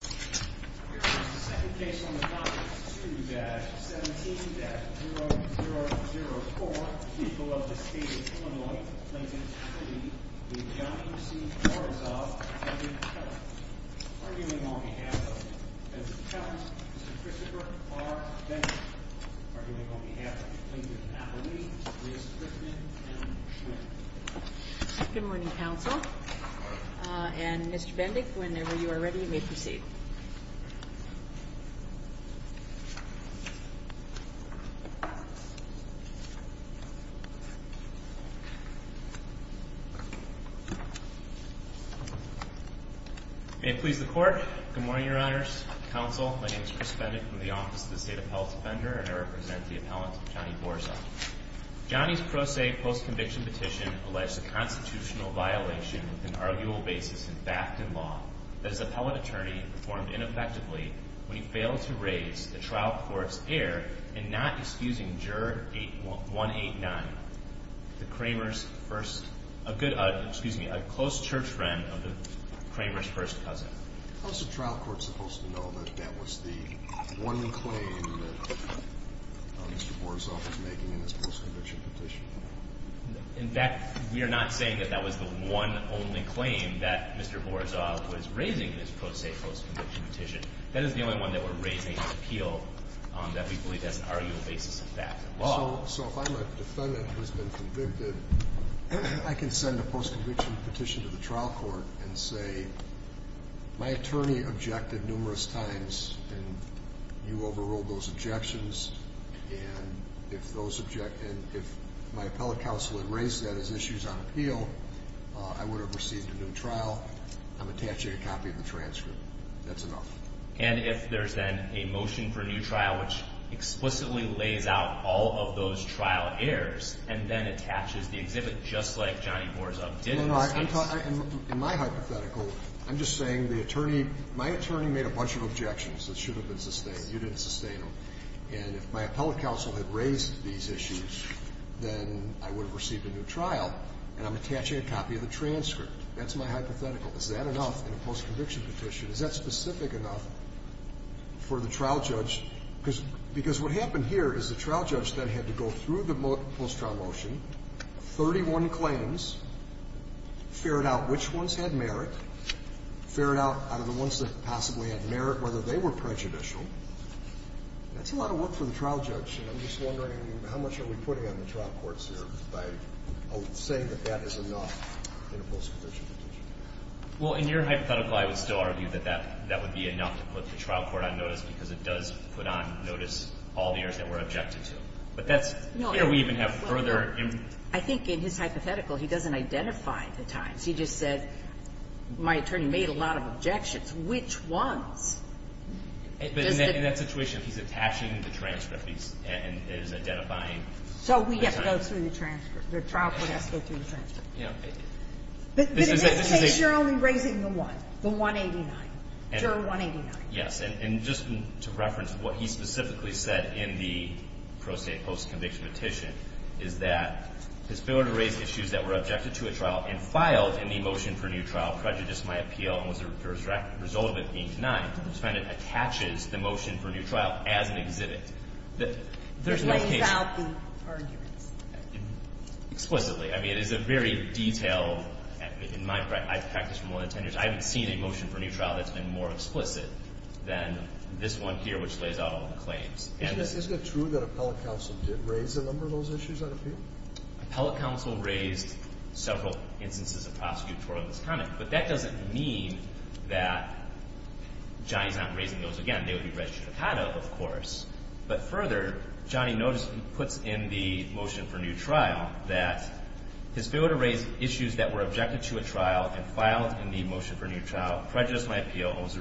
2-17-0004, people of the state of Illinois, plaintiff's plea, the Johnny C. Borizov and the defendant. Arguing on behalf of the defendant's attorneys, Mr. Christopher R. Bendick. Arguing on behalf of the plaintiff's attorneys, Ms. Frickman and Ms. Schwinn. Good morning, Counsel. And Mr. Bendick, whenever you are ready, you may proceed. May it please the Court. Good morning, Your Honors. Counsel, my name is Chris Bendick from the Office of the State Appellate Defender, and I represent the appellant, Johnny Borizov. Johnny's pro se post-conviction petition alleged a constitutional violation with an arguable basis in fact and law that his appellate attorney performed ineffectively when he failed to raise the trial court's error in not excusing Juror 189, a close church friend of the Kramer's first cousin. How is the trial court supposed to know that that was the one claim that Mr. Borizov was making in his post-conviction petition? In fact, we are not saying that that was the one only claim that Mr. Borizov was raising in his pro se post-conviction petition. That is the only one that we're raising in appeal that we believe has an arguable basis in fact and law. Well, so if I'm a defendant who has been convicted, I can send a post-conviction petition to the trial court and say, my attorney objected numerous times, and you overruled those objections. And if my appellate counsel had raised that as issues on appeal, I would have received a new trial. I'm attaching a copy of the transcript. That's enough. And if there's then a motion for a new trial which explicitly lays out all of those trial errors and then attaches the exhibit just like Johnny Borizov did in his case? In my hypothetical, I'm just saying my attorney made a bunch of objections that should have been sustained. You didn't sustain them. And if my appellate counsel had raised these issues, then I would have received a new trial, and I'm attaching a copy of the transcript. That's my hypothetical. Is that enough in a post-conviction petition? Is that specific enough for the trial judge? Because what happened here is the trial judge then had to go through the post-trial motion, 31 claims, ferret out which ones had merit, ferret out out of the ones that possibly had merit whether they were prejudicial. That's a lot of work for the trial judge, and I'm just wondering how much are we putting on the trial courts here by saying that that is enough in a post-conviction petition? Well, in your hypothetical, I would still argue that that would be enough to put the trial court on notice because it does put on notice all the errors that were objected to. But that's clear. We even have further. I think in his hypothetical, he doesn't identify the times. He just said, my attorney made a lot of objections. Which ones? In that situation, he's attaching the transcript and is identifying. So we have to go through the transcript. The trial court has to go through the transcript. Yeah. But in this case, you're only raising the one, the 189, juror 189. Yes. And just to reference what he specifically said in the pro se post-conviction petition is that his failure to raise issues that were objected to at trial and filed in the motion for a new trial prejudiced my appeal and was the result of it being denied. I just find it attaches the motion for a new trial as an exhibit. It lays out the arguments. Explicitly. I mean, it is a very detailed, in my practice from more than 10 years, I haven't seen a motion for a new trial that's been more explicit than this one here, which lays out all the claims. Isn't it true that appellate counsel did raise a number of those issues on appeal? Appellate counsel raised several instances of prosecutorial misconduct. But that doesn't mean that Johnny's not raising those again. They would be registered to CADA, of course. But further, Johnny puts in the motion for a new trial that his failure to raise issues that were objected to at trial and filed in the motion for a new trial prejudiced my appeal and was the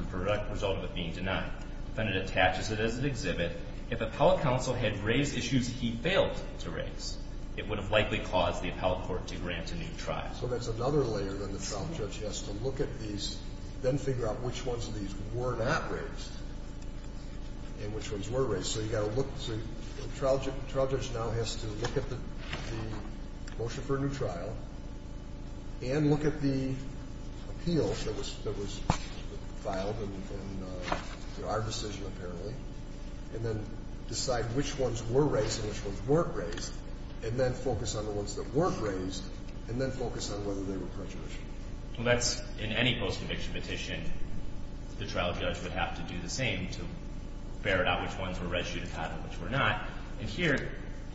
result of it being denied. Then it attaches it as an exhibit. If appellate counsel had raised issues he failed to raise, it would have likely caused the appellate court to grant a new trial. So that's another layer that the trial judge has to look at these, then figure out which ones of these were not raised and which ones were raised. So you've got to look. So the trial judge now has to look at the motion for a new trial and look at the appeal that was filed in our decision, apparently, and then decide which ones were raised and which ones weren't raised, and then focus on the ones that weren't raised, and then focus on whether they were prejudiced. Well, that's, in any post-conviction petition, the trial judge would have to do the same to ferret out which ones were res judicata and which were not. And here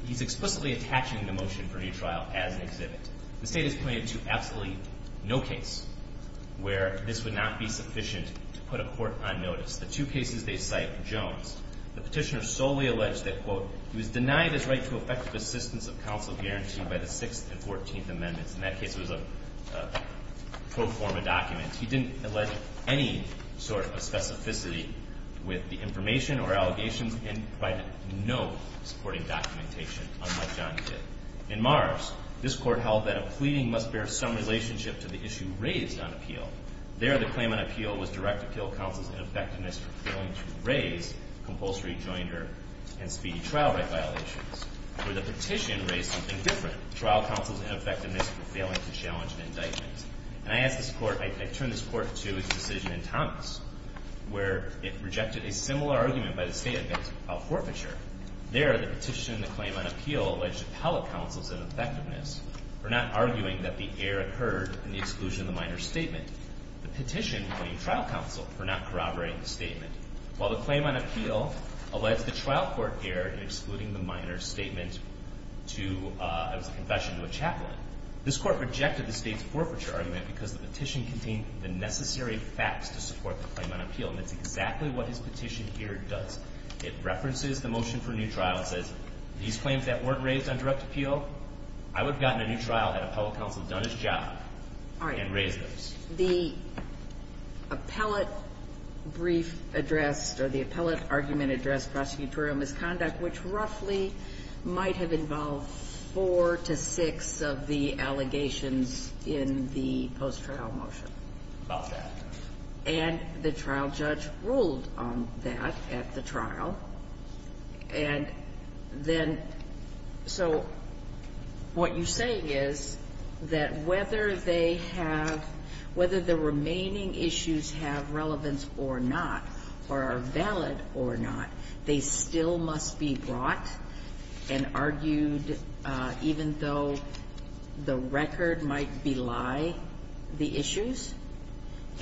he's explicitly attaching the motion for a new trial as an exhibit. The State has pointed to absolutely no case where this would not be sufficient to put a court on notice. The two cases they cite, Jones, the petitioner solely alleged that, quote, he was denied his right to effective assistance of counsel guaranteed by the pro forma documents. He didn't allege any sort of specificity with the information or allegations, and provided no supporting documentation, unlike Johnny did. In Mars, this court held that a pleading must bear some relationship to the issue raised on appeal. There, the claim on appeal was direct appeal of counsel's ineffectiveness for failing to raise compulsory joinder and speedy trial right violations. Where the petition raised something different, trial counsel's ineffectiveness for failing to challenge an indictment. And I asked this court, I turned this court to a decision in Thomas, where it rejected a similar argument by the State about forfeiture. There, the petition and the claim on appeal alleged appellate counsel's ineffectiveness for not arguing that the error occurred in the exclusion of the minor statement. The petition blamed trial counsel for not corroborating the statement. While the claim on appeal alleged the trial court error in excluding the minor statement to, it was a confession to a chaplain, this court rejected the State's forfeiture argument because the petition contained the necessary facts to support the claim on appeal. And that's exactly what his petition here does. It references the motion for a new trial. It says, these claims that weren't raised on direct appeal, I would have gotten a new trial had appellate counsel done his job and raised those. All right. The appellate brief addressed, or the appellate argument addressed prosecutorial misconduct, which roughly might have involved four to six of the allegations in the post-trial motion. About that. And the trial judge ruled on that at the trial. And then so what you're saying is that whether they have, whether the remaining issues have relevance or not, or are valid or not, they still must be brought and argued even though the record might belie the issues?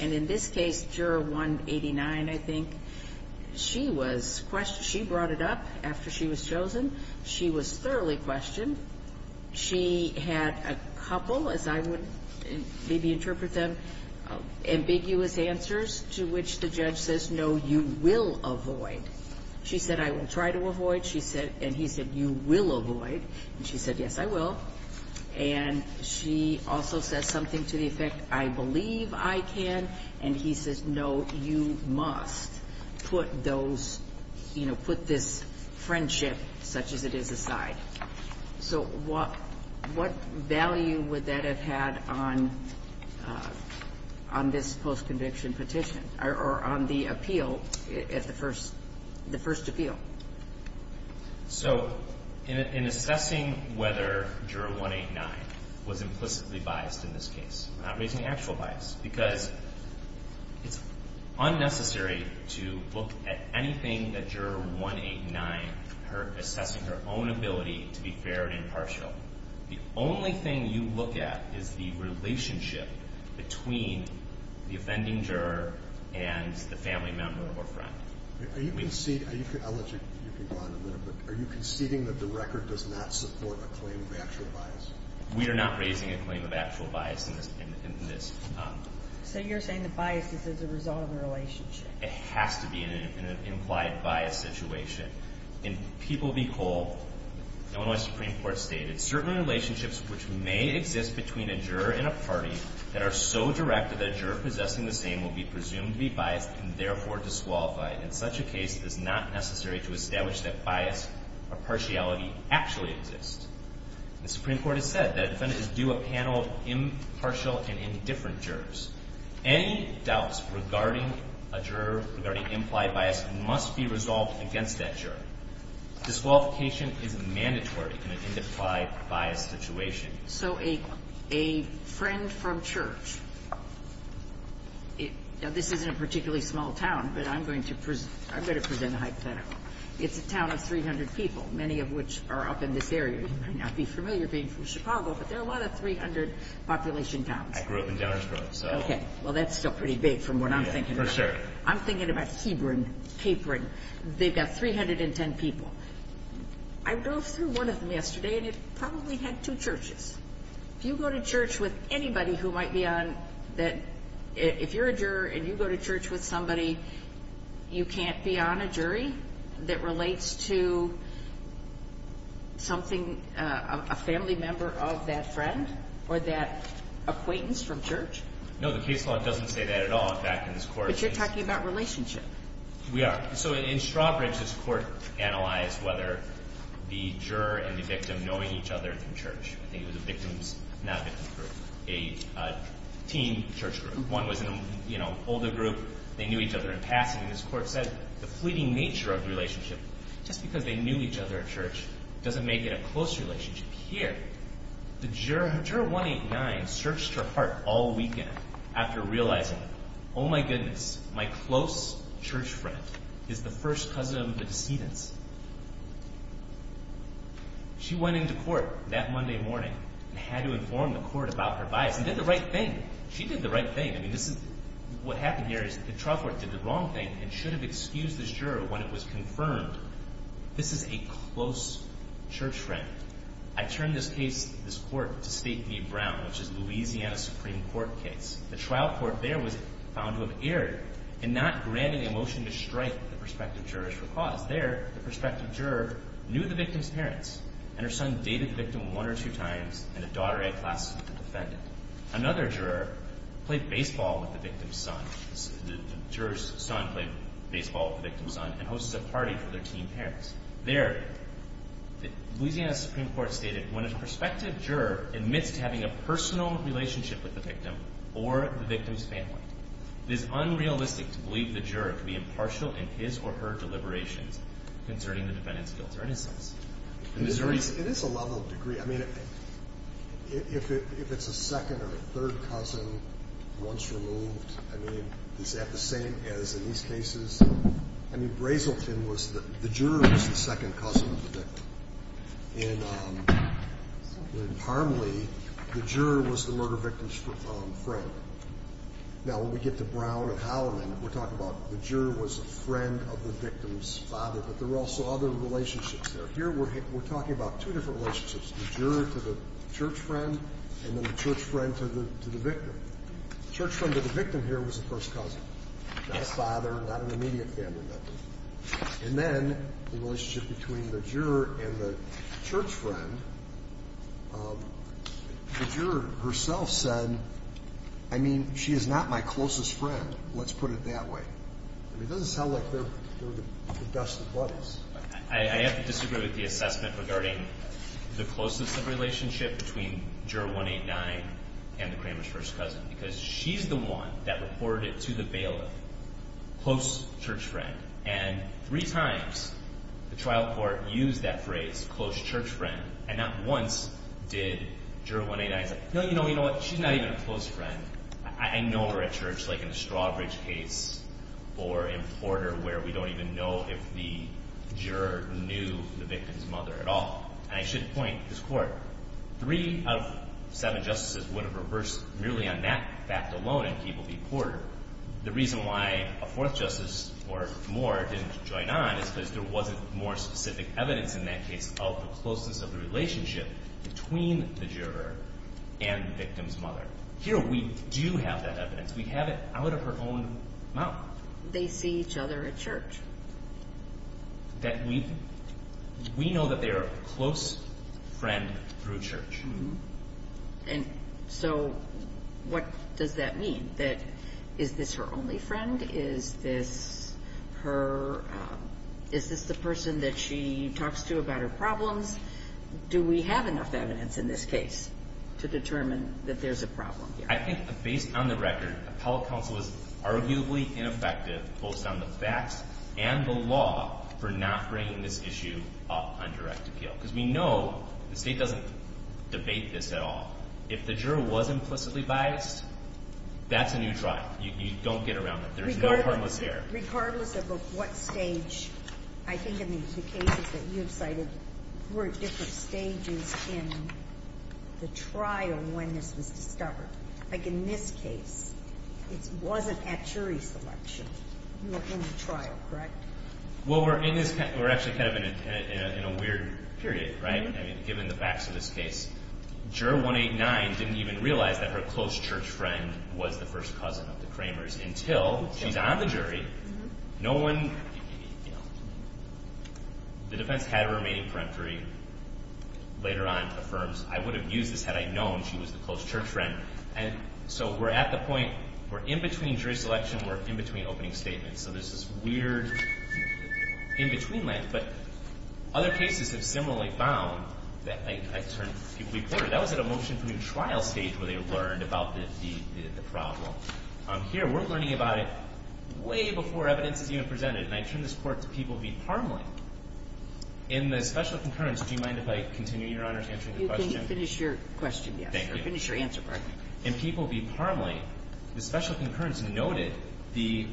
And in this case, Juror 189, I think, she was questioned. She brought it up after she was chosen. She was thoroughly questioned. She had a couple, as I would maybe interpret them, ambiguous answers to which the judge says, no, you will avoid. She said, I will try to avoid. She said, and he said, you will avoid. And she said, yes, I will. And she also says something to the effect, I believe I can. And he says, no, you must put those, you know, put this friendship such as it is aside. So what value would that have had on this post-conviction petition or on the appeal, the first appeal? So in assessing whether Juror 189 was implicitly biased in this case, we're not raising actual bias because it's unnecessary to look at anything that The only thing you look at is the relationship between the offending juror and the family member or friend. Are you conceding that the record does not support a claim of actual bias? We are not raising a claim of actual bias in this. So you're saying the bias is as a result of a relationship? It has to be in an implied bias situation. In People v. Cole, Illinois Supreme Court stated, certain relationships which may exist between a juror and a party that are so directed that a juror possessing the same will be presumed to be biased and therefore disqualified. In such a case, it is not necessary to establish that bias or partiality actually exists. The Supreme Court has said that a defendant is due a panel of impartial and indifferent jurors. Any doubts regarding a juror regarding implied bias must be resolved against that juror. Disqualification is mandatory in an implied bias situation. So a friend from church, this isn't a particularly small town, but I'm going to present a hypothetical. It's a town of 300 people, many of which are up in this area. You might not be familiar being from Chicago, but there are a lot of 300 population towns. Well, that's still pretty big from what I'm thinking. For sure. I'm thinking about Hebron, Capron. They've got 310 people. I drove through one of them yesterday, and it probably had two churches. If you go to church with anybody who might be on that, if you're a juror and you go to church with somebody, you can't be on a jury that relates to something, a family member of that friend or that acquaintance from church? No, the case law doesn't say that at all back in this Court. But you're talking about relationship. We are. So in Strawbridge, this Court analyzed whether the juror and the victim knowing each other from church. I think it was a victim's, not victim's group, a teen church group. Group one was an older group. They knew each other in passing, and this Court said the fleeting nature of relationship, just because they knew each other at church, doesn't make it a close relationship. Here, juror 189 searched her heart all weekend after realizing, oh my goodness, my close church friend is the first cousin of the decedents. She went into court that Monday morning and had to inform the Court about her bias. And did the right thing. She did the right thing. I mean, this is, what happened here is the trial court did the wrong thing and should have excused this juror when it was confirmed, this is a close church friend. I turn this case, this Court, to State v. Brown, which is Louisiana Supreme Court case. The trial court there was found to have erred in not granting a motion to strike the prospective jurors for cause. There, the prospective juror knew the victim's parents, and her son dated the victim one or two times, and the daughter had classes with the defendant. Another juror played baseball with the victim's son. The juror's son played baseball with the victim's son and hosted a party for their teen parents. There, the Louisiana Supreme Court stated, when a prospective juror admits to having a personal relationship with the victim or the victim's family, it is unrealistic to believe the juror to be impartial in his or her deliberations concerning the defendant's guilt or innocence. It is a level of degree. I mean, if it's a second or third cousin once removed, I mean, is that the same as in these cases? I mean, Brazelton was the – the juror was the second cousin of the victim. In Parmley, the juror was the murder victim's friend. Now, when we get to Brown and Halliman, we're talking about the juror was a friend of the victim's father, but there were also other relationships there. Here we're talking about two different relationships, the juror to the church friend and then the church friend to the victim. The church friend to the victim here was the first cousin, not a father, not an immediate family member. And then the relationship between the juror and the church friend, the juror herself said, I mean, she is not my closest friend, let's put it that way. I mean, it doesn't sound like they're the best of buddies. I have to disagree with the assessment regarding the closeness of relationship between Juror 189 and the Kramer's first cousin because she's the one that reported to the bailiff close church friend, and three times the trial court used that phrase, close church friend, and not once did Juror 189 say, no, you know what? She's not even a close friend. I know we're at church like in the Strawbridge case or in Porter where we don't even know if the juror knew the victim's mother at all. And I should point to this court, three out of seven justices would have reversed merely on that fact alone in Peabody-Porter. The reason why a fourth justice or more didn't join on is because there wasn't more specific evidence in that case of the closeness of the relationship between the juror and the victim's mother. Here we do have that evidence. We have it out of her own mouth. They see each other at church. We know that they're a close friend through church. And so what does that mean? Is this her only friend? Is this the person that she talks to about her problems? Do we have enough evidence in this case to determine that there's a problem here? I think based on the record, appellate counsel is arguably ineffective, both on the facts and the law, for not bringing this issue up on direct appeal. Because we know the state doesn't debate this at all. If the juror was implicitly biased, that's a new trial. You don't get around it. There's no harmless here. Regardless of what stage, I think in the cases that you've cited, were at different stages in the trial when this was discovered. Like in this case, it wasn't at jury selection. You were in the trial, correct? Well, we're actually kind of in a weird period, right? I mean, given the facts of this case, Juror 189 didn't even realize that her close church friend was the first cousin of the Kramers until she's on the jury. No one, you know. The defense had a remaining peremptory. Later on affirms, I would have used this had I known she was the close church friend. And so we're at the point where in between jury selection, we're in between opening statements. So there's this weird in-between land. But other cases have similarly found that, like I've heard people report, that was at a motion for new trial stage where they learned about the problem. Here, we're learning about it way before evidence is even presented. And I turn this Court to People v. Parmley. In the special concurrence, do you mind if I continue, Your Honor, to answer the question? You can finish your question, yes. Thank you. Or finish your answer part. In People v. Parmley, the special concurrence noted the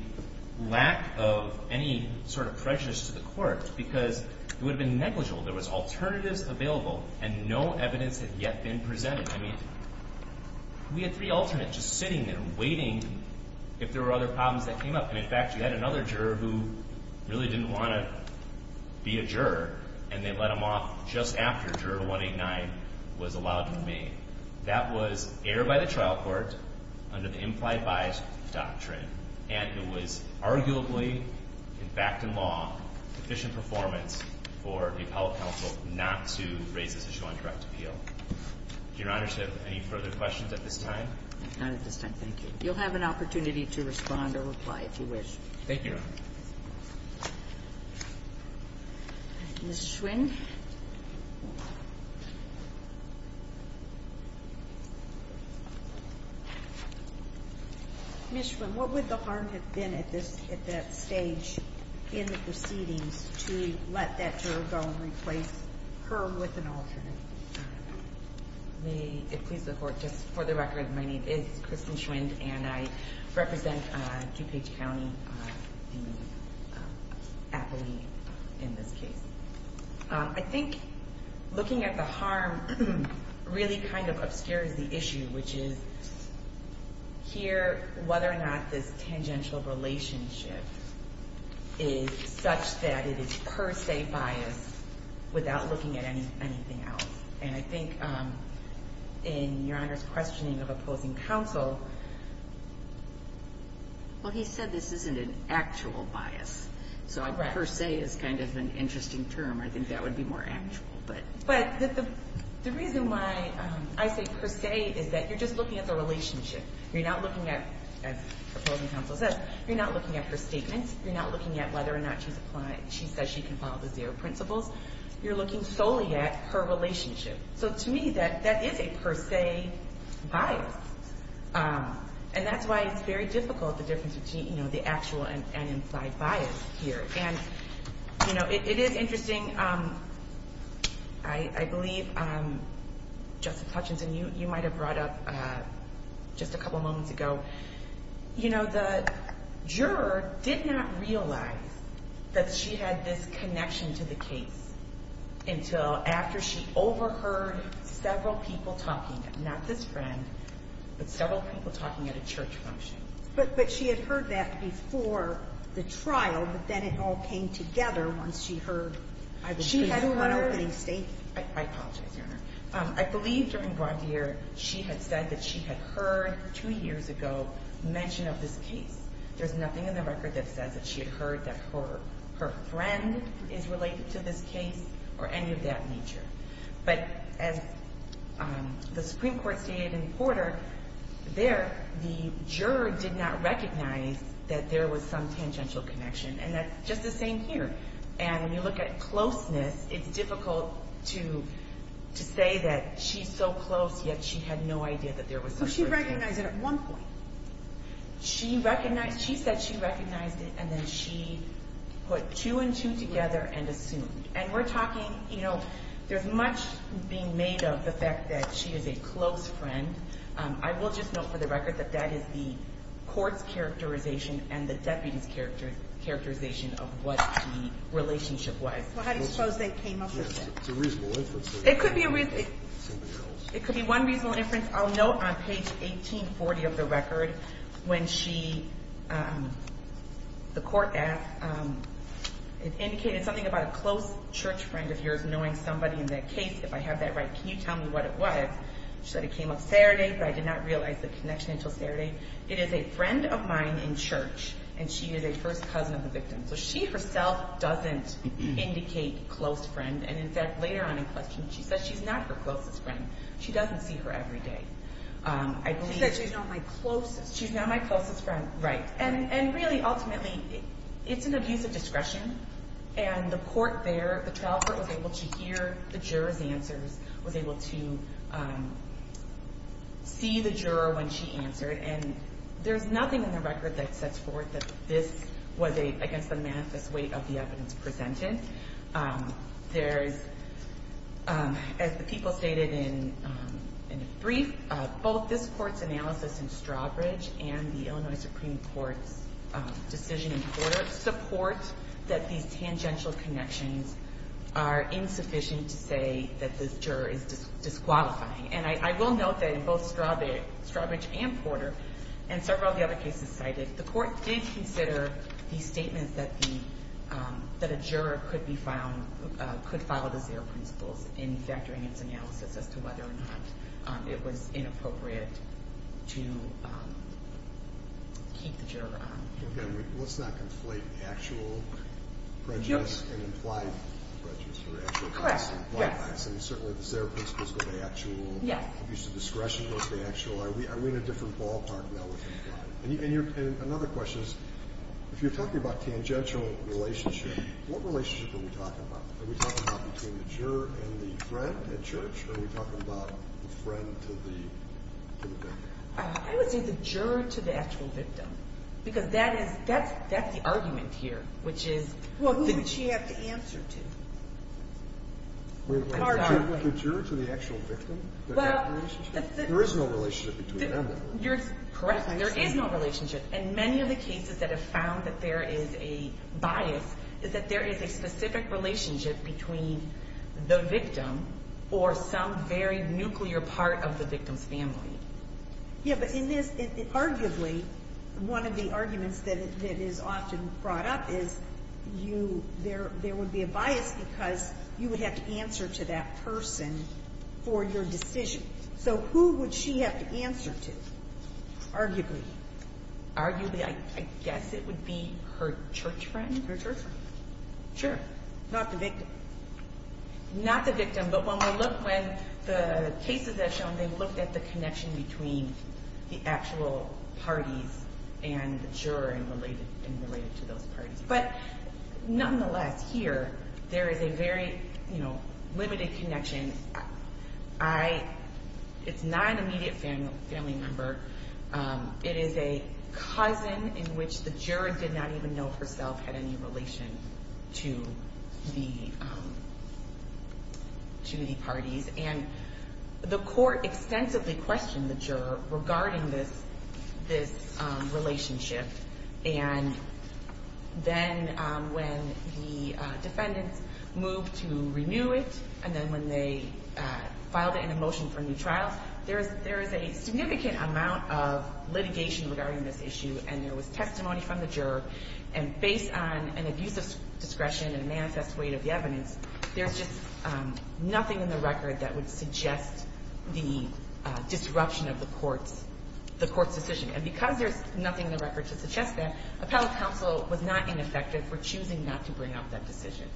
lack of any sort of prejudice to the Court because it would have been negligible. There was alternatives available and no evidence had yet been presented. We had three alternates just sitting there waiting if there were other problems that came up. And, in fact, you had another juror who really didn't want to be a juror, and they let him off just after Juror 189 was allowed to remain. That was aired by the trial court under the implied bias doctrine. And it was arguably, in fact, in law, sufficient performance for the appellate counsel not to raise this issue on direct appeal. Your Honor, do you have any further questions at this time? Not at this time, thank you. You'll have an opportunity to respond or reply if you wish. Thank you, Your Honor. Ms. Schwinn. Ms. Schwinn, what would the harm have been at that stage in the proceedings to let that juror go and replace her with an alternate? May it please the Court, just for the record, my name is Kristen Schwinn and I represent DuPage County, the appellee in this case. I think looking at the harm really kind of obscures the issue, which is here whether or not this tangential relationship is such that it is per se biased without looking at anything else. And I think in Your Honor's questioning of opposing counsel, well, he said this isn't an actual bias, so per se is kind of an interesting term. I think that would be more actual. But the reason why I say per se is that you're just looking at the relationship. You're not looking at, as opposing counsel says, you're not looking at her statements. You're not looking at whether or not she says she can follow the zero principles. You're looking solely at her relationship. So to me, that is a per se bias. And that's why it's very difficult, the difference between the actual and implied bias here. And, you know, it is interesting. I believe, Justice Hutchinson, you might have brought up just a couple moments ago, you know, the juror did not realize that she had this connection to the case until after she overheard several people talking, not this friend, but several people talking at a church function. But she had heard that before the trial, but then it all came together once she heard. I apologize, Your Honor. I believe during Brontier, she had said that she had heard two years ago mention of this case. There's nothing in the record that says that she had heard that her friend is related to this case or any of that nature. But as the Supreme Court stated in Porter, there, the juror did not recognize that there was some tangential connection. And that's just the same here. And when you look at closeness, it's difficult to say that she's so close, yet she had no idea that there was this person. So she recognized it at one point. She recognized, she said she recognized it, and then she put two and two together and assumed. And we're talking, you know, there's much being made of the fact that she is a close friend. I will just note for the record that that is the court's characterization and the deputy's characterization of what the relationship was. Well, how do you suppose they came up with that? It's a reasonable inference. It could be one reasonable inference. I'll note on page 1840 of the record when she, the court asked, it indicated something about a close church friend of yours knowing somebody in that case. If I have that right, can you tell me what it was? She said it came up Saturday, but I did not realize the connection until Saturday. It is a friend of mine in church, and she is a first cousin of the victim. So she herself doesn't indicate close friend. And, in fact, later on in questioning, she said she's not her closest friend. She doesn't see her every day. She said she's not my closest. She's not my closest friend, right. And really, ultimately, it's an abuse of discretion. And the court there, the trial court was able to hear the juror's answers, was able to see the juror when she answered. And there's nothing in the record that sets forth that this was, I guess, the manifest weight of the evidence presented. There's, as the people stated in the brief, both this court's analysis in Strawbridge and the Illinois Supreme Court's decision in court support that these tangential connections are insufficient to say that this juror is disqualifying. And I will note that in both Strawbridge and Porter, and several of the other cases cited, the court did consider the statements that a juror could file as their principles in factoring its analysis as to whether or not it was inappropriate to keep the juror on. Let's not conflate actual prejudice and implied prejudice. Correct. I mean, certainly, is there a principle of actual abuse of discretion? Are we in a different ballpark now with implied? And another question is, if you're talking about tangential relationship, what relationship are we talking about? Are we talking about between the juror and the friend at church, or are we talking about the friend to the victim? I would say the juror to the actual victim, because that's the argument here, which is— Well, who would she have to answer to? The juror to the actual victim? There is no relationship between them. You're correct. There is no relationship. And many of the cases that have found that there is a bias is that there is a specific relationship between the victim or some very nuclear part of the victim's family. Yeah, but in this, arguably, one of the arguments that is often brought up is you – there would be a bias because you would have to answer to that person for your decision. So who would she have to answer to, arguably? Arguably, I guess it would be her church friend. Her church friend. Sure. Not the victim. Not the victim. But when we look when the cases have shown, they looked at the connection between the actual parties and the juror and related to those parties. But nonetheless, here, there is a very limited connection. It's not an immediate family member. It is a cousin in which the juror did not even know herself had any relation to the parties. And the court extensively questioned the juror regarding this relationship. And then when the defendants moved to renew it, and then when they filed it in a motion for a new trial, there is a significant amount of litigation regarding this issue, and there was testimony from the juror. And based on an abuse of discretion and a manifest weight of the evidence, there's just nothing in the record that would suggest the disruption of the court's decision. And because there's nothing in the record to suggest that, appellate counsel was not ineffective for choosing not to bring up that decision.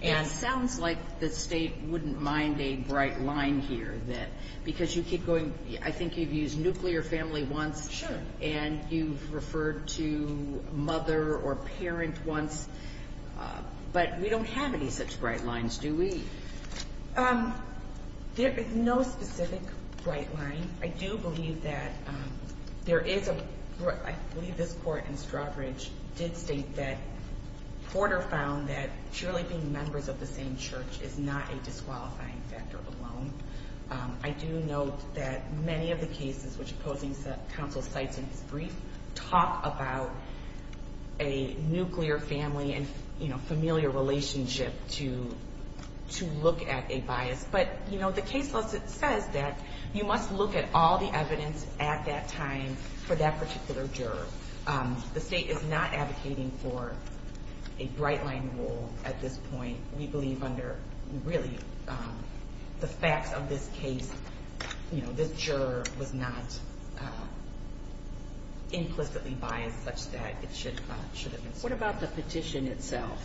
And it sounds like the state wouldn't mind a bright line here. Because you keep going, I think you've used nuclear family once. Sure. And you've referred to mother or parent once. But we don't have any such bright lines, do we? There is no specific bright line. I do believe that there is a – I believe this court in Strawbridge did state that Porter found that truly being members of the same church is not a disqualifying factor alone. I do note that many of the cases which opposing counsel cites in his brief talk about a nuclear family and familiar relationship to look at a bias. But, you know, the case says that you must look at all the evidence at that time for that particular juror. The state is not advocating for a bright line rule at this point. We believe under really the facts of this case, you know, this juror was not implicitly biased such that it should have been. What about the petition itself?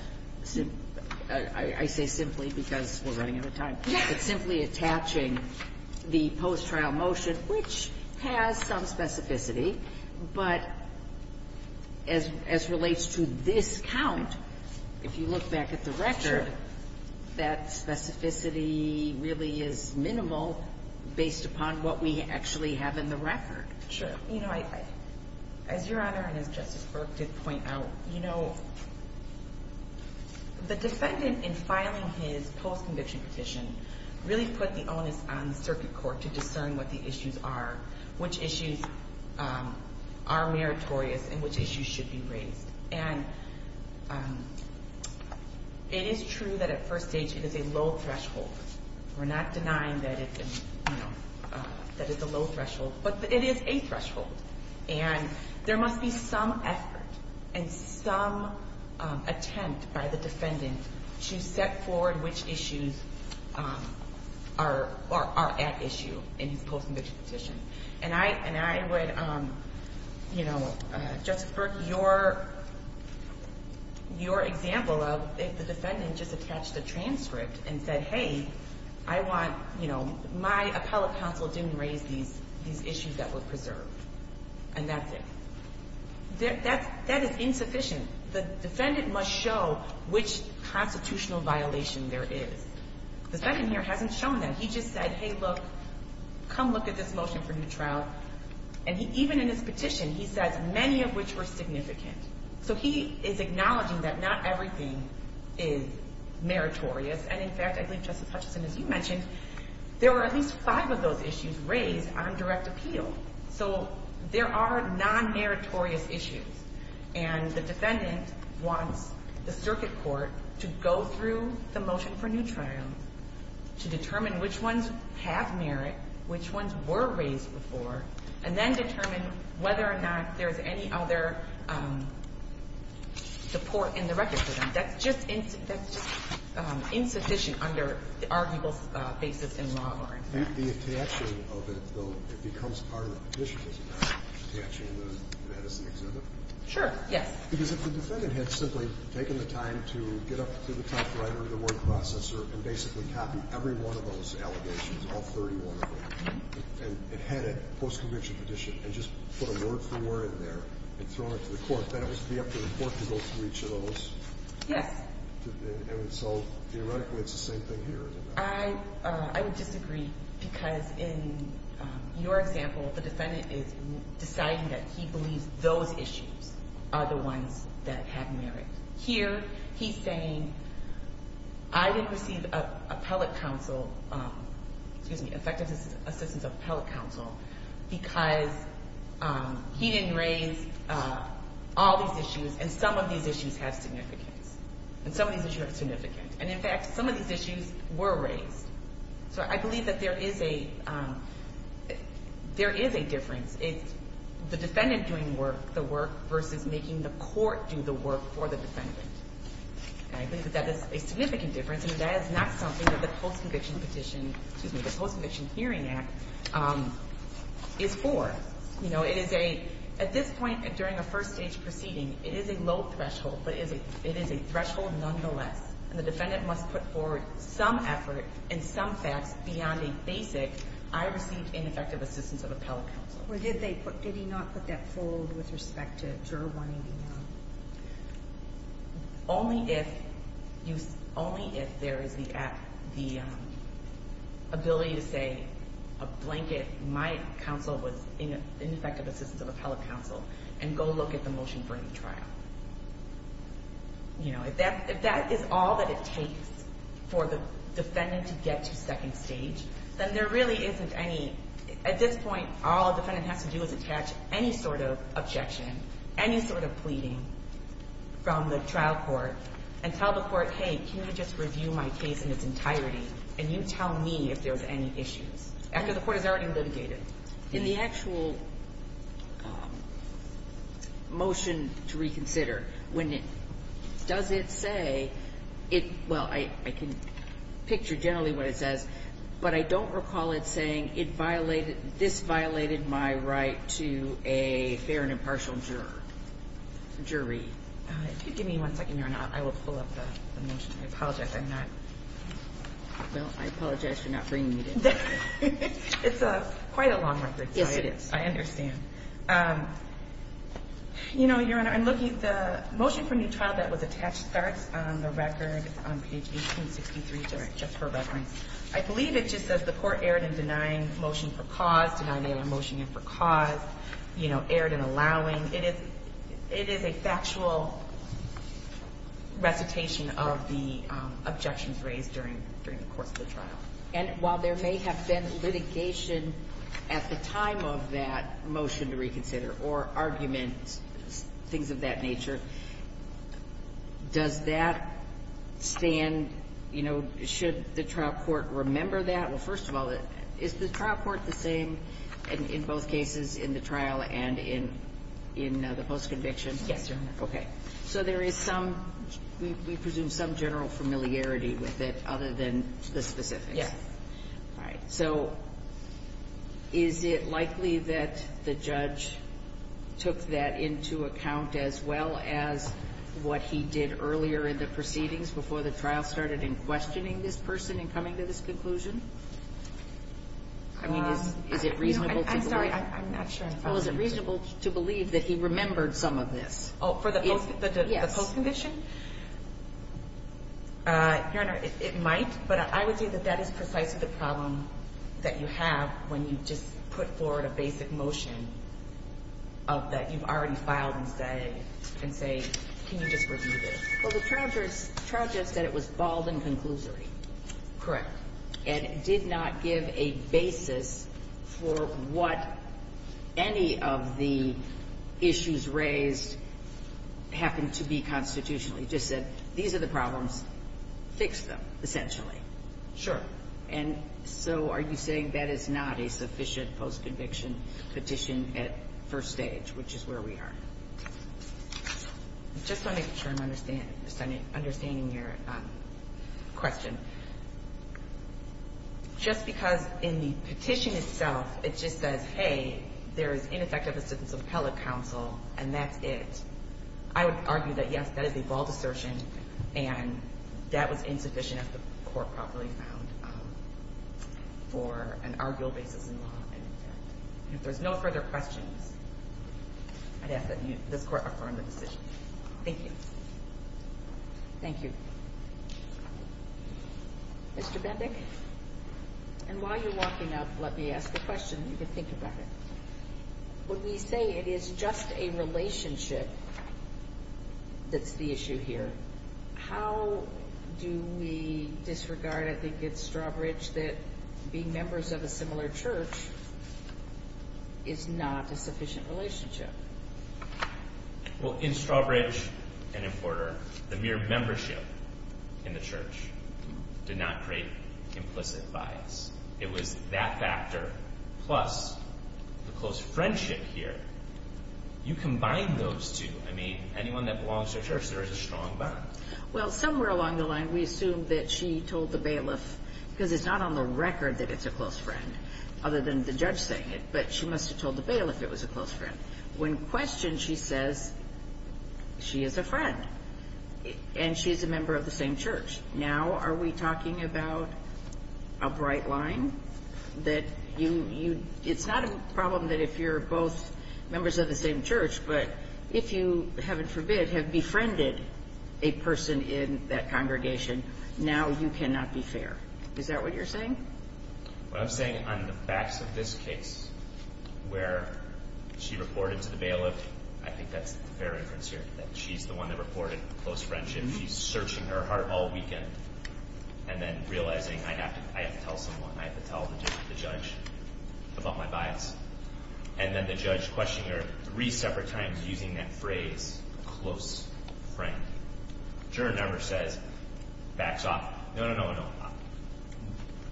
I say simply because we're running out of time. Yes. It's simply attaching the post-trial motion, which has some specificity. But as relates to this count, if you look back at the record, that specificity really is minimal based upon what we actually have in the record. Sure. You know, as Your Honor and as Justice Burke did point out, you know, the defendant in filing his post-conviction petition really put the onus on the circuit court to discern what the issues are, which issues are meritorious and which issues should be raised. And it is true that at first stage it is a low threshold. We're not denying that it's a low threshold, but it is a threshold. And there must be some effort and some attempt by the defendant to set forward which issues are at issue in his post-conviction petition. And I would, you know, Justice Burke, your example of if the defendant just attached a transcript and said, hey, I want, you know, my appellate counsel didn't raise these issues that were preserved, and that's it. That is insufficient. The defendant must show which constitutional violation there is. The defendant here hasn't shown that. He just said, hey, look, come look at this motion for new trial. And even in his petition, he says many of which were significant. So he is acknowledging that not everything is meritorious. And, in fact, I believe, Justice Hutchison, as you mentioned, there were at least five of those issues raised on direct appeal. So there are non-meritorious issues. And the defendant wants the circuit court to go through the motion for new trial to determine which ones have merit, which ones were raised before, and then determine whether or not there is any other support in the record for them. That's just insufficient under the arguable basis in law bar, in fact. The attachment of it, though, it becomes part of the petition, doesn't it, attaching that as the exhibit? Sure, yes. Because if the defendant had simply taken the time to get up to the top right of the word processor and basically copied every one of those allegations, all 31 of them, and had a post-conviction petition and just put a word-for-word there and thrown it to the court, then it would be up to the court to go through each of those. Yes. And so, theoretically, it's the same thing here, isn't it? I would disagree because, in your example, the defendant is deciding that he believes those issues are the ones that have merit. Here, he's saying, I didn't receive appellate counsel, excuse me, effective assistance of appellate counsel, because he didn't raise all these issues, and some of these issues have significance. And some of these issues have significance. And, in fact, some of these issues were raised. So I believe that there is a difference. It's the defendant doing work, the work, versus making the court do the work for the defendant. And I believe that that is a significant difference. And that is not something that the post-conviction petition – excuse me, the Post-Conviction Hearing Act is for. You know, it is a – at this point, during a first-stage proceeding, it is a low threshold, but it is a threshold nonetheless. And the defendant must put forward some effort and some facts beyond a basic, I received ineffective assistance of appellate counsel. Or did they put – did he not put that forward with respect to Juror 189? Only if there is the ability to say, a blanket, my counsel was ineffective assistance of appellate counsel, and go look at the motion for a new trial. You know, if that – if that is all that it takes for the defendant to get to second stage, then there really isn't any – at this point, all a defendant has to do is attach any sort of objection, any sort of pleading from the trial court, and tell the court, hey, can you just review my case in its entirety, and you tell me if there's any issues, after the court has already litigated. In the actual motion to reconsider, when it – does it say it – well, I can picture generally what it says, but I don't recall it saying it violated – this violated my right to a fair and impartial jury. If you give me one second here or not, I will pull up the motion. I apologize. I'm not – well, I apologize for not bringing it in. It's a – quite a long record. Yes, it is. I understand. You know, Your Honor, I'm looking – the motion for a new trial that was attached starts on the record on page 1863, just for reference. I believe it just says the court erred in denying motion for cause, denying motion for cause, you know, erred in allowing. It is – it is a factual recitation of the objections raised during the course of the trial. And while there may have been litigation at the time of that motion to reconsider or arguments, things of that nature, does that stand, you know – should the trial court remember that? Well, first of all, is the trial court the same in both cases, in the trial and in the post-conviction? Yes, Your Honor. Okay. So there is some – we presume some general familiarity with it other than the specifics. Yes. All right. So is it likely that the judge took that into account as well as what he did earlier in the proceedings before the trial started in questioning this person in coming to this conclusion? I mean, is it reasonable to believe – I'm sorry. I'm not sure. Well, is it reasonable to believe that he remembered some of this? Oh, for the post-conviction? Yes. Your Honor, it might. But I would say that that is precisely the problem that you have when you just put forward a basic motion that you've already filed and say – and say, can you just review this? Well, the trial judge said it was bald and conclusory. Correct. And it did not give a basis for what any of the issues raised happened to be constitutionally. It just said, these are the problems. Fix them, essentially. Sure. And so are you saying that is not a sufficient post-conviction petition at first stage, which is where we are? Just to make sure I'm understanding your question, just because in the petition itself it just says, hey, there is ineffective assistance of appellate counsel and that's it. I would argue that, yes, that is a bald assertion and that was insufficient if the court properly found for an arguable basis in law. If there's no further questions, I'd ask that this court affirm the decision. Thank you. Thank you. Mr. Bendick, and while you're walking up, let me ask a question. You can think about it. When we say it is just a relationship that's the issue here, how do we disregard, I think it's Strawbridge, that being members of a similar church is not a sufficient relationship? Well, in Strawbridge and in Porter, the mere membership in the church did not create implicit bias. It was that factor plus the close friendship here. You combine those two. I mean, anyone that belongs to a church, there is a strong bond. Well, somewhere along the line, we assume that she told the bailiff, because it's not on the record that it's a close friend, other than the judge saying it, but she must have told the bailiff it was a close friend. When questioned, she says she is a friend and she is a member of the same church. Now are we talking about a bright line that you – it's not a problem that if you're both members of the same church, but if you, heaven forbid, have befriended a person in that congregation, now you cannot be fair. Is that what you're saying? What I'm saying on the facts of this case, where she reported to the bailiff, I think that's the fair inference here, that she's the one that reported close friendship. She's searching her heart all weekend and then realizing I have to tell someone, I have to tell the judge about my bias. And then the judge questioning her three separate times using that phrase, close friend. Juror number says, backs off. No, no, no, no.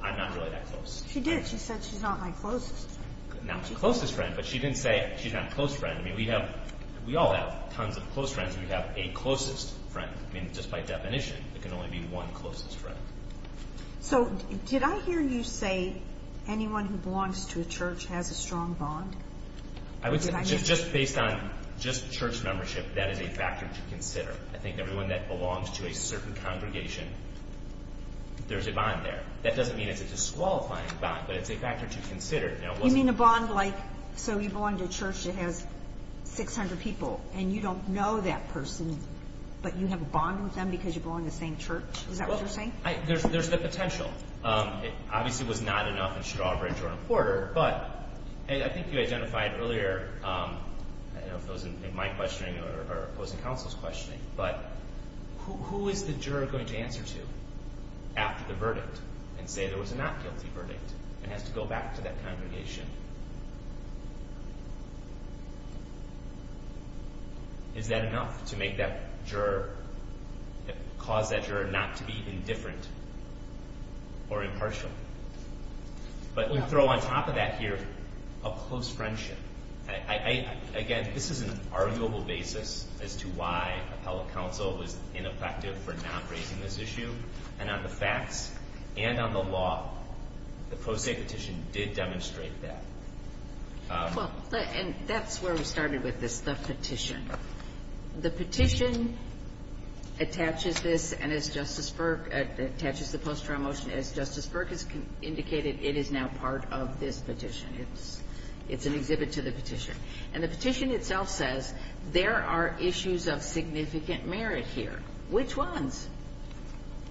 I'm not really that close. She did. She said she's not my closest friend. Not closest friend, but she didn't say she's not a close friend. I mean, we have – we all have tons of close friends. We have a closest friend. I mean, just by definition, it can only be one closest friend. So did I hear you say anyone who belongs to a church has a strong bond? It's just based on just church membership. That is a factor to consider. I think everyone that belongs to a certain congregation, there's a bond there. That doesn't mean it's a disqualifying bond, but it's a factor to consider. You mean a bond like, so you belong to a church that has 600 people and you don't know that person, but you have a bond with them because you belong to the same church? Is that what you're saying? There's the potential. Obviously, it was not enough in Strawbridge or in Porter. But I think you identified earlier, I don't know if it was in my questioning or it was in counsel's questioning, but who is the juror going to answer to after the verdict and say there was a not guilty verdict and has to go back to that congregation? Is that enough to make that juror, cause that juror not to be indifferent or impartial? But we throw on top of that here a close friendship. Again, this is an arguable basis as to why appellate counsel was ineffective for not raising this issue. And on the facts and on the law, the Pro Se Petition did demonstrate that. Well, and that's where we started with this, the petition. The petition attaches this, and as Justice Burke, attaches the post-trial motion as Justice Burke has indicated, it is now part of this petition. It's an exhibit to the petition. And the petition itself says there are issues of significant merit here. Which ones?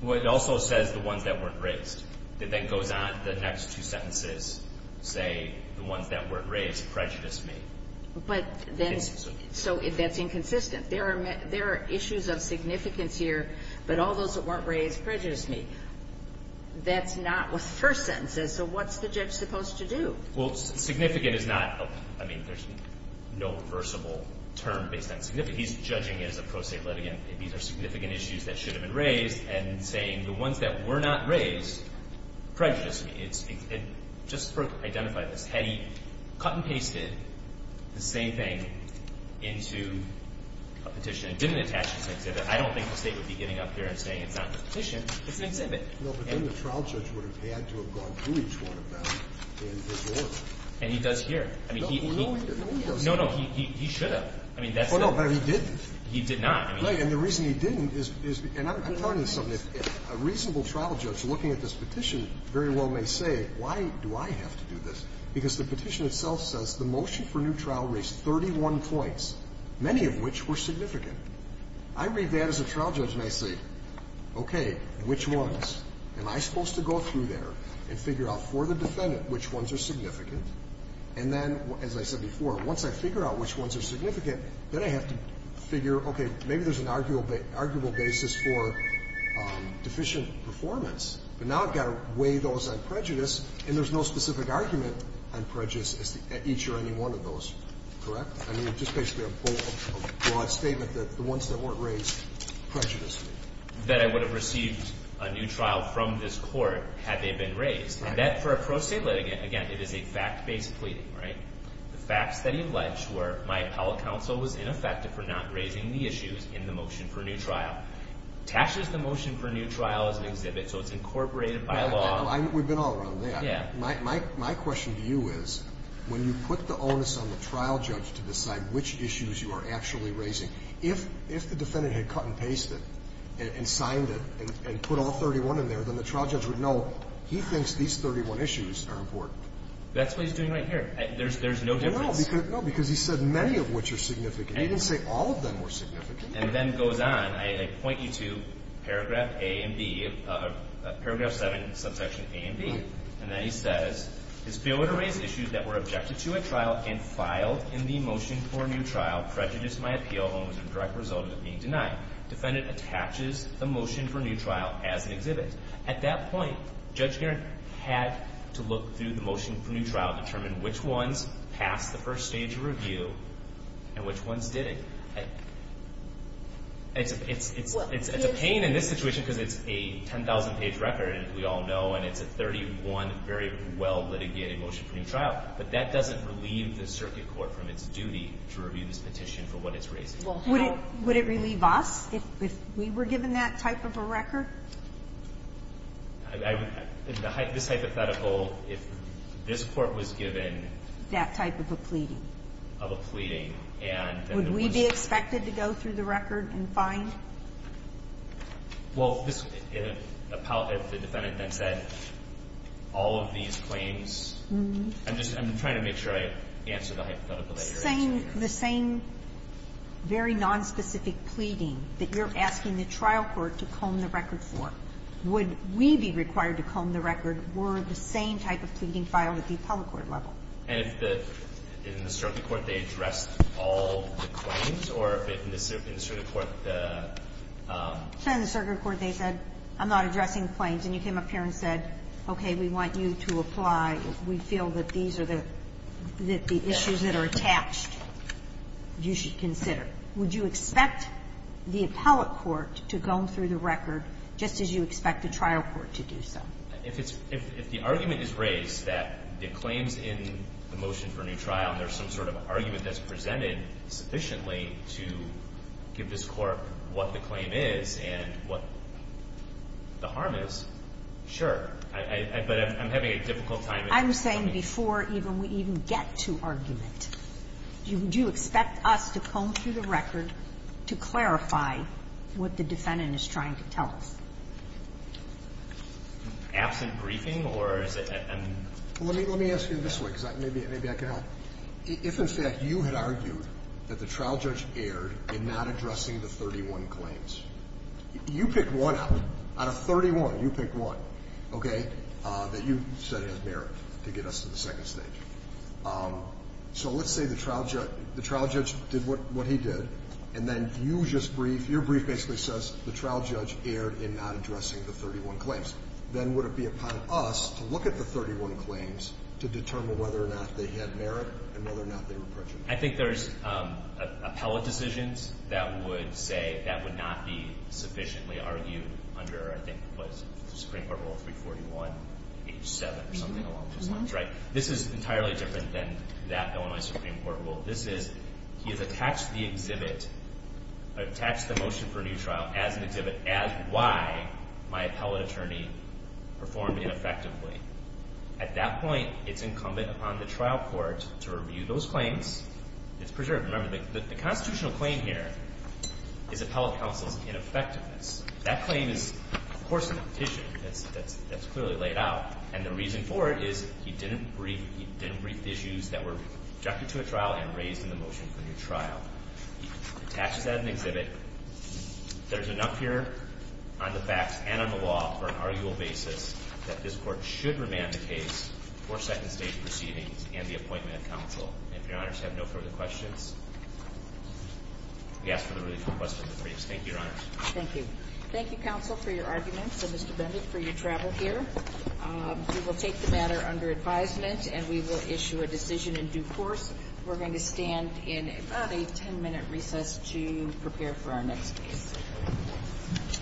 Well, it also says the ones that weren't raised. It then goes on, the next two sentences, say the ones that weren't raised prejudice me. But then, so that's inconsistent. There are issues of significance here, but all those that weren't raised prejudice me. That's not with first sentences, so what's the judge supposed to do? Well, significant is not, I mean, there's no reversible term based on significant. He's judging it as a pro se litigant. These are significant issues that should have been raised, and saying the ones that were not raised prejudice me. Justice Burke identified this. Had he cut and pasted the same thing into a petition and didn't attach this exhibit, I don't think the State would be getting up here and saying it's not a petition, it's an exhibit. No, but then the trial judge would have had to have gone through each one of them in his order. And he does here. No, he doesn't. No, no, he should have. Well, no, but he didn't. He did not. No, and the reason he didn't is, and I'm trying to do something. If a reasonable trial judge looking at this petition very well may say, why do I have to do this, because the petition itself says the motion for new trial raised 31 points, many of which were significant. I read that as a trial judge, and I say, okay, which ones? Am I supposed to go through there and figure out for the defendant which ones are significant, and then, as I said before, once I figure out which ones are significant, then I have to figure, okay, maybe there's an arguable basis for deficient performance, but now I've got to weigh those on prejudice, and there's no specific argument on prejudice at each or any one of those. Correct? I mean, just basically a broad statement that the ones that weren't raised prejudiced me. That I would have received a new trial from this Court had they been raised. Right. And that, for a pro-State litigant, again, it is a fact-based pleading, right? The facts that he alleged were my appellate counsel was ineffective for not raising the issues in the motion for a new trial. It attaches the motion for a new trial as an exhibit, so it's incorporated by law. We've been all around that. Yeah. My question to you is, when you put the onus on the trial judge to decide which issues you are actually raising, if the defendant had cut and pasted and signed it and put all 31 in there, then the trial judge would know he thinks these 31 issues are important. That's what he's doing right here. There's no difference. No, because he said many of which are significant. He didn't say all of them were significant. And then it goes on. I point you to paragraph A and B, paragraph 7, subsection A and B. Right. And then he says, His failure to raise issues that were objected to at trial and filed in the motion for a new trial prejudiced my appeal and was a direct result of it being denied. Defendant attaches the motion for a new trial as an exhibit. At that point, Judge Garrett had to look through the motion for a new trial, determine which ones passed the first stage of review and which ones didn't. It's a pain in this situation because it's a 10,000-page record, as we all know, and it's a 31 very well-litigated motion for a new trial. But that doesn't relieve the circuit court from its duty to review this petition for what it's raising. Sotomayor? This hypothetical, if this Court was given that type of a pleading. Of a pleading. And it was the one that was given. Would we be expected to go through the record and find? Well, this, if the defendant then said all of these claims? I'm just trying to make sure I answer the hypothetical at your expense. The same very nonspecific pleading that you're asking the trial court to comb the record for, would we be required to comb the record were the same type of pleading filed at the appellate court level? And if in the circuit court they addressed all the claims, or if in the circuit court the ---- In the circuit court they said, I'm not addressing the claims. And you came up here and said, okay, we want you to apply. We feel that these are the issues that are attached you should consider. Would you expect the appellate court to comb through the record just as you expect the trial court to do so? If it's ---- if the argument is raised that the claims in the motion for a new trial and there's some sort of argument that's presented sufficiently to give this Court what the claim is and what the harm is, sure. But I'm having a difficult time explaining it. I'm saying before we even get to argument, would you expect us to comb through the record to clarify what the defendant is trying to tell us? Absent briefing or is it an ---- Let me ask you this way because maybe I can help. If in fact you had argued that the trial judge erred in not addressing the 31 claims, you pick one out of 31, you pick one, okay, that you said has merit to get us to the second stage. So let's say the trial judge did what he did and then you just brief. Your brief basically says the trial judge erred in not addressing the 31 claims. Then would it be upon us to look at the 31 claims to determine whether or not they had merit and whether or not they were prejudiced? I think there's appellate decisions that would say that would not be sufficiently argued under I think it was the Supreme Court Rule 341, page 7 or something along those lines, right? This is entirely different than that Illinois Supreme Court Rule. This is he has attached the exhibit, attached the motion for a new trial as an exhibit as why my appellate attorney performed ineffectively. At that point, it's incumbent upon the trial court to review those claims. It's preserved. Remember, the constitutional claim here is appellate counsel's ineffectiveness. That claim is, of course, a petition that's clearly laid out. And the reason for it is he didn't brief the issues that were rejected to the trial and raised in the motion for a new trial. He attaches that in the exhibit. There's enough here on the facts and on the law for an arguable basis that this Court should remand the case for second-stage proceedings and the appointment of counsel. And if Your Honors have no further questions, we ask for the release of the questions of the briefs. Thank you, Your Honors. Thank you. Thank you, counsel, for your arguments and, Mr. Bennett, for your travel here. We will take the matter under advisement and we will issue a decision in due course. We're going to stand in about a 10-minute recess to prepare for our next case.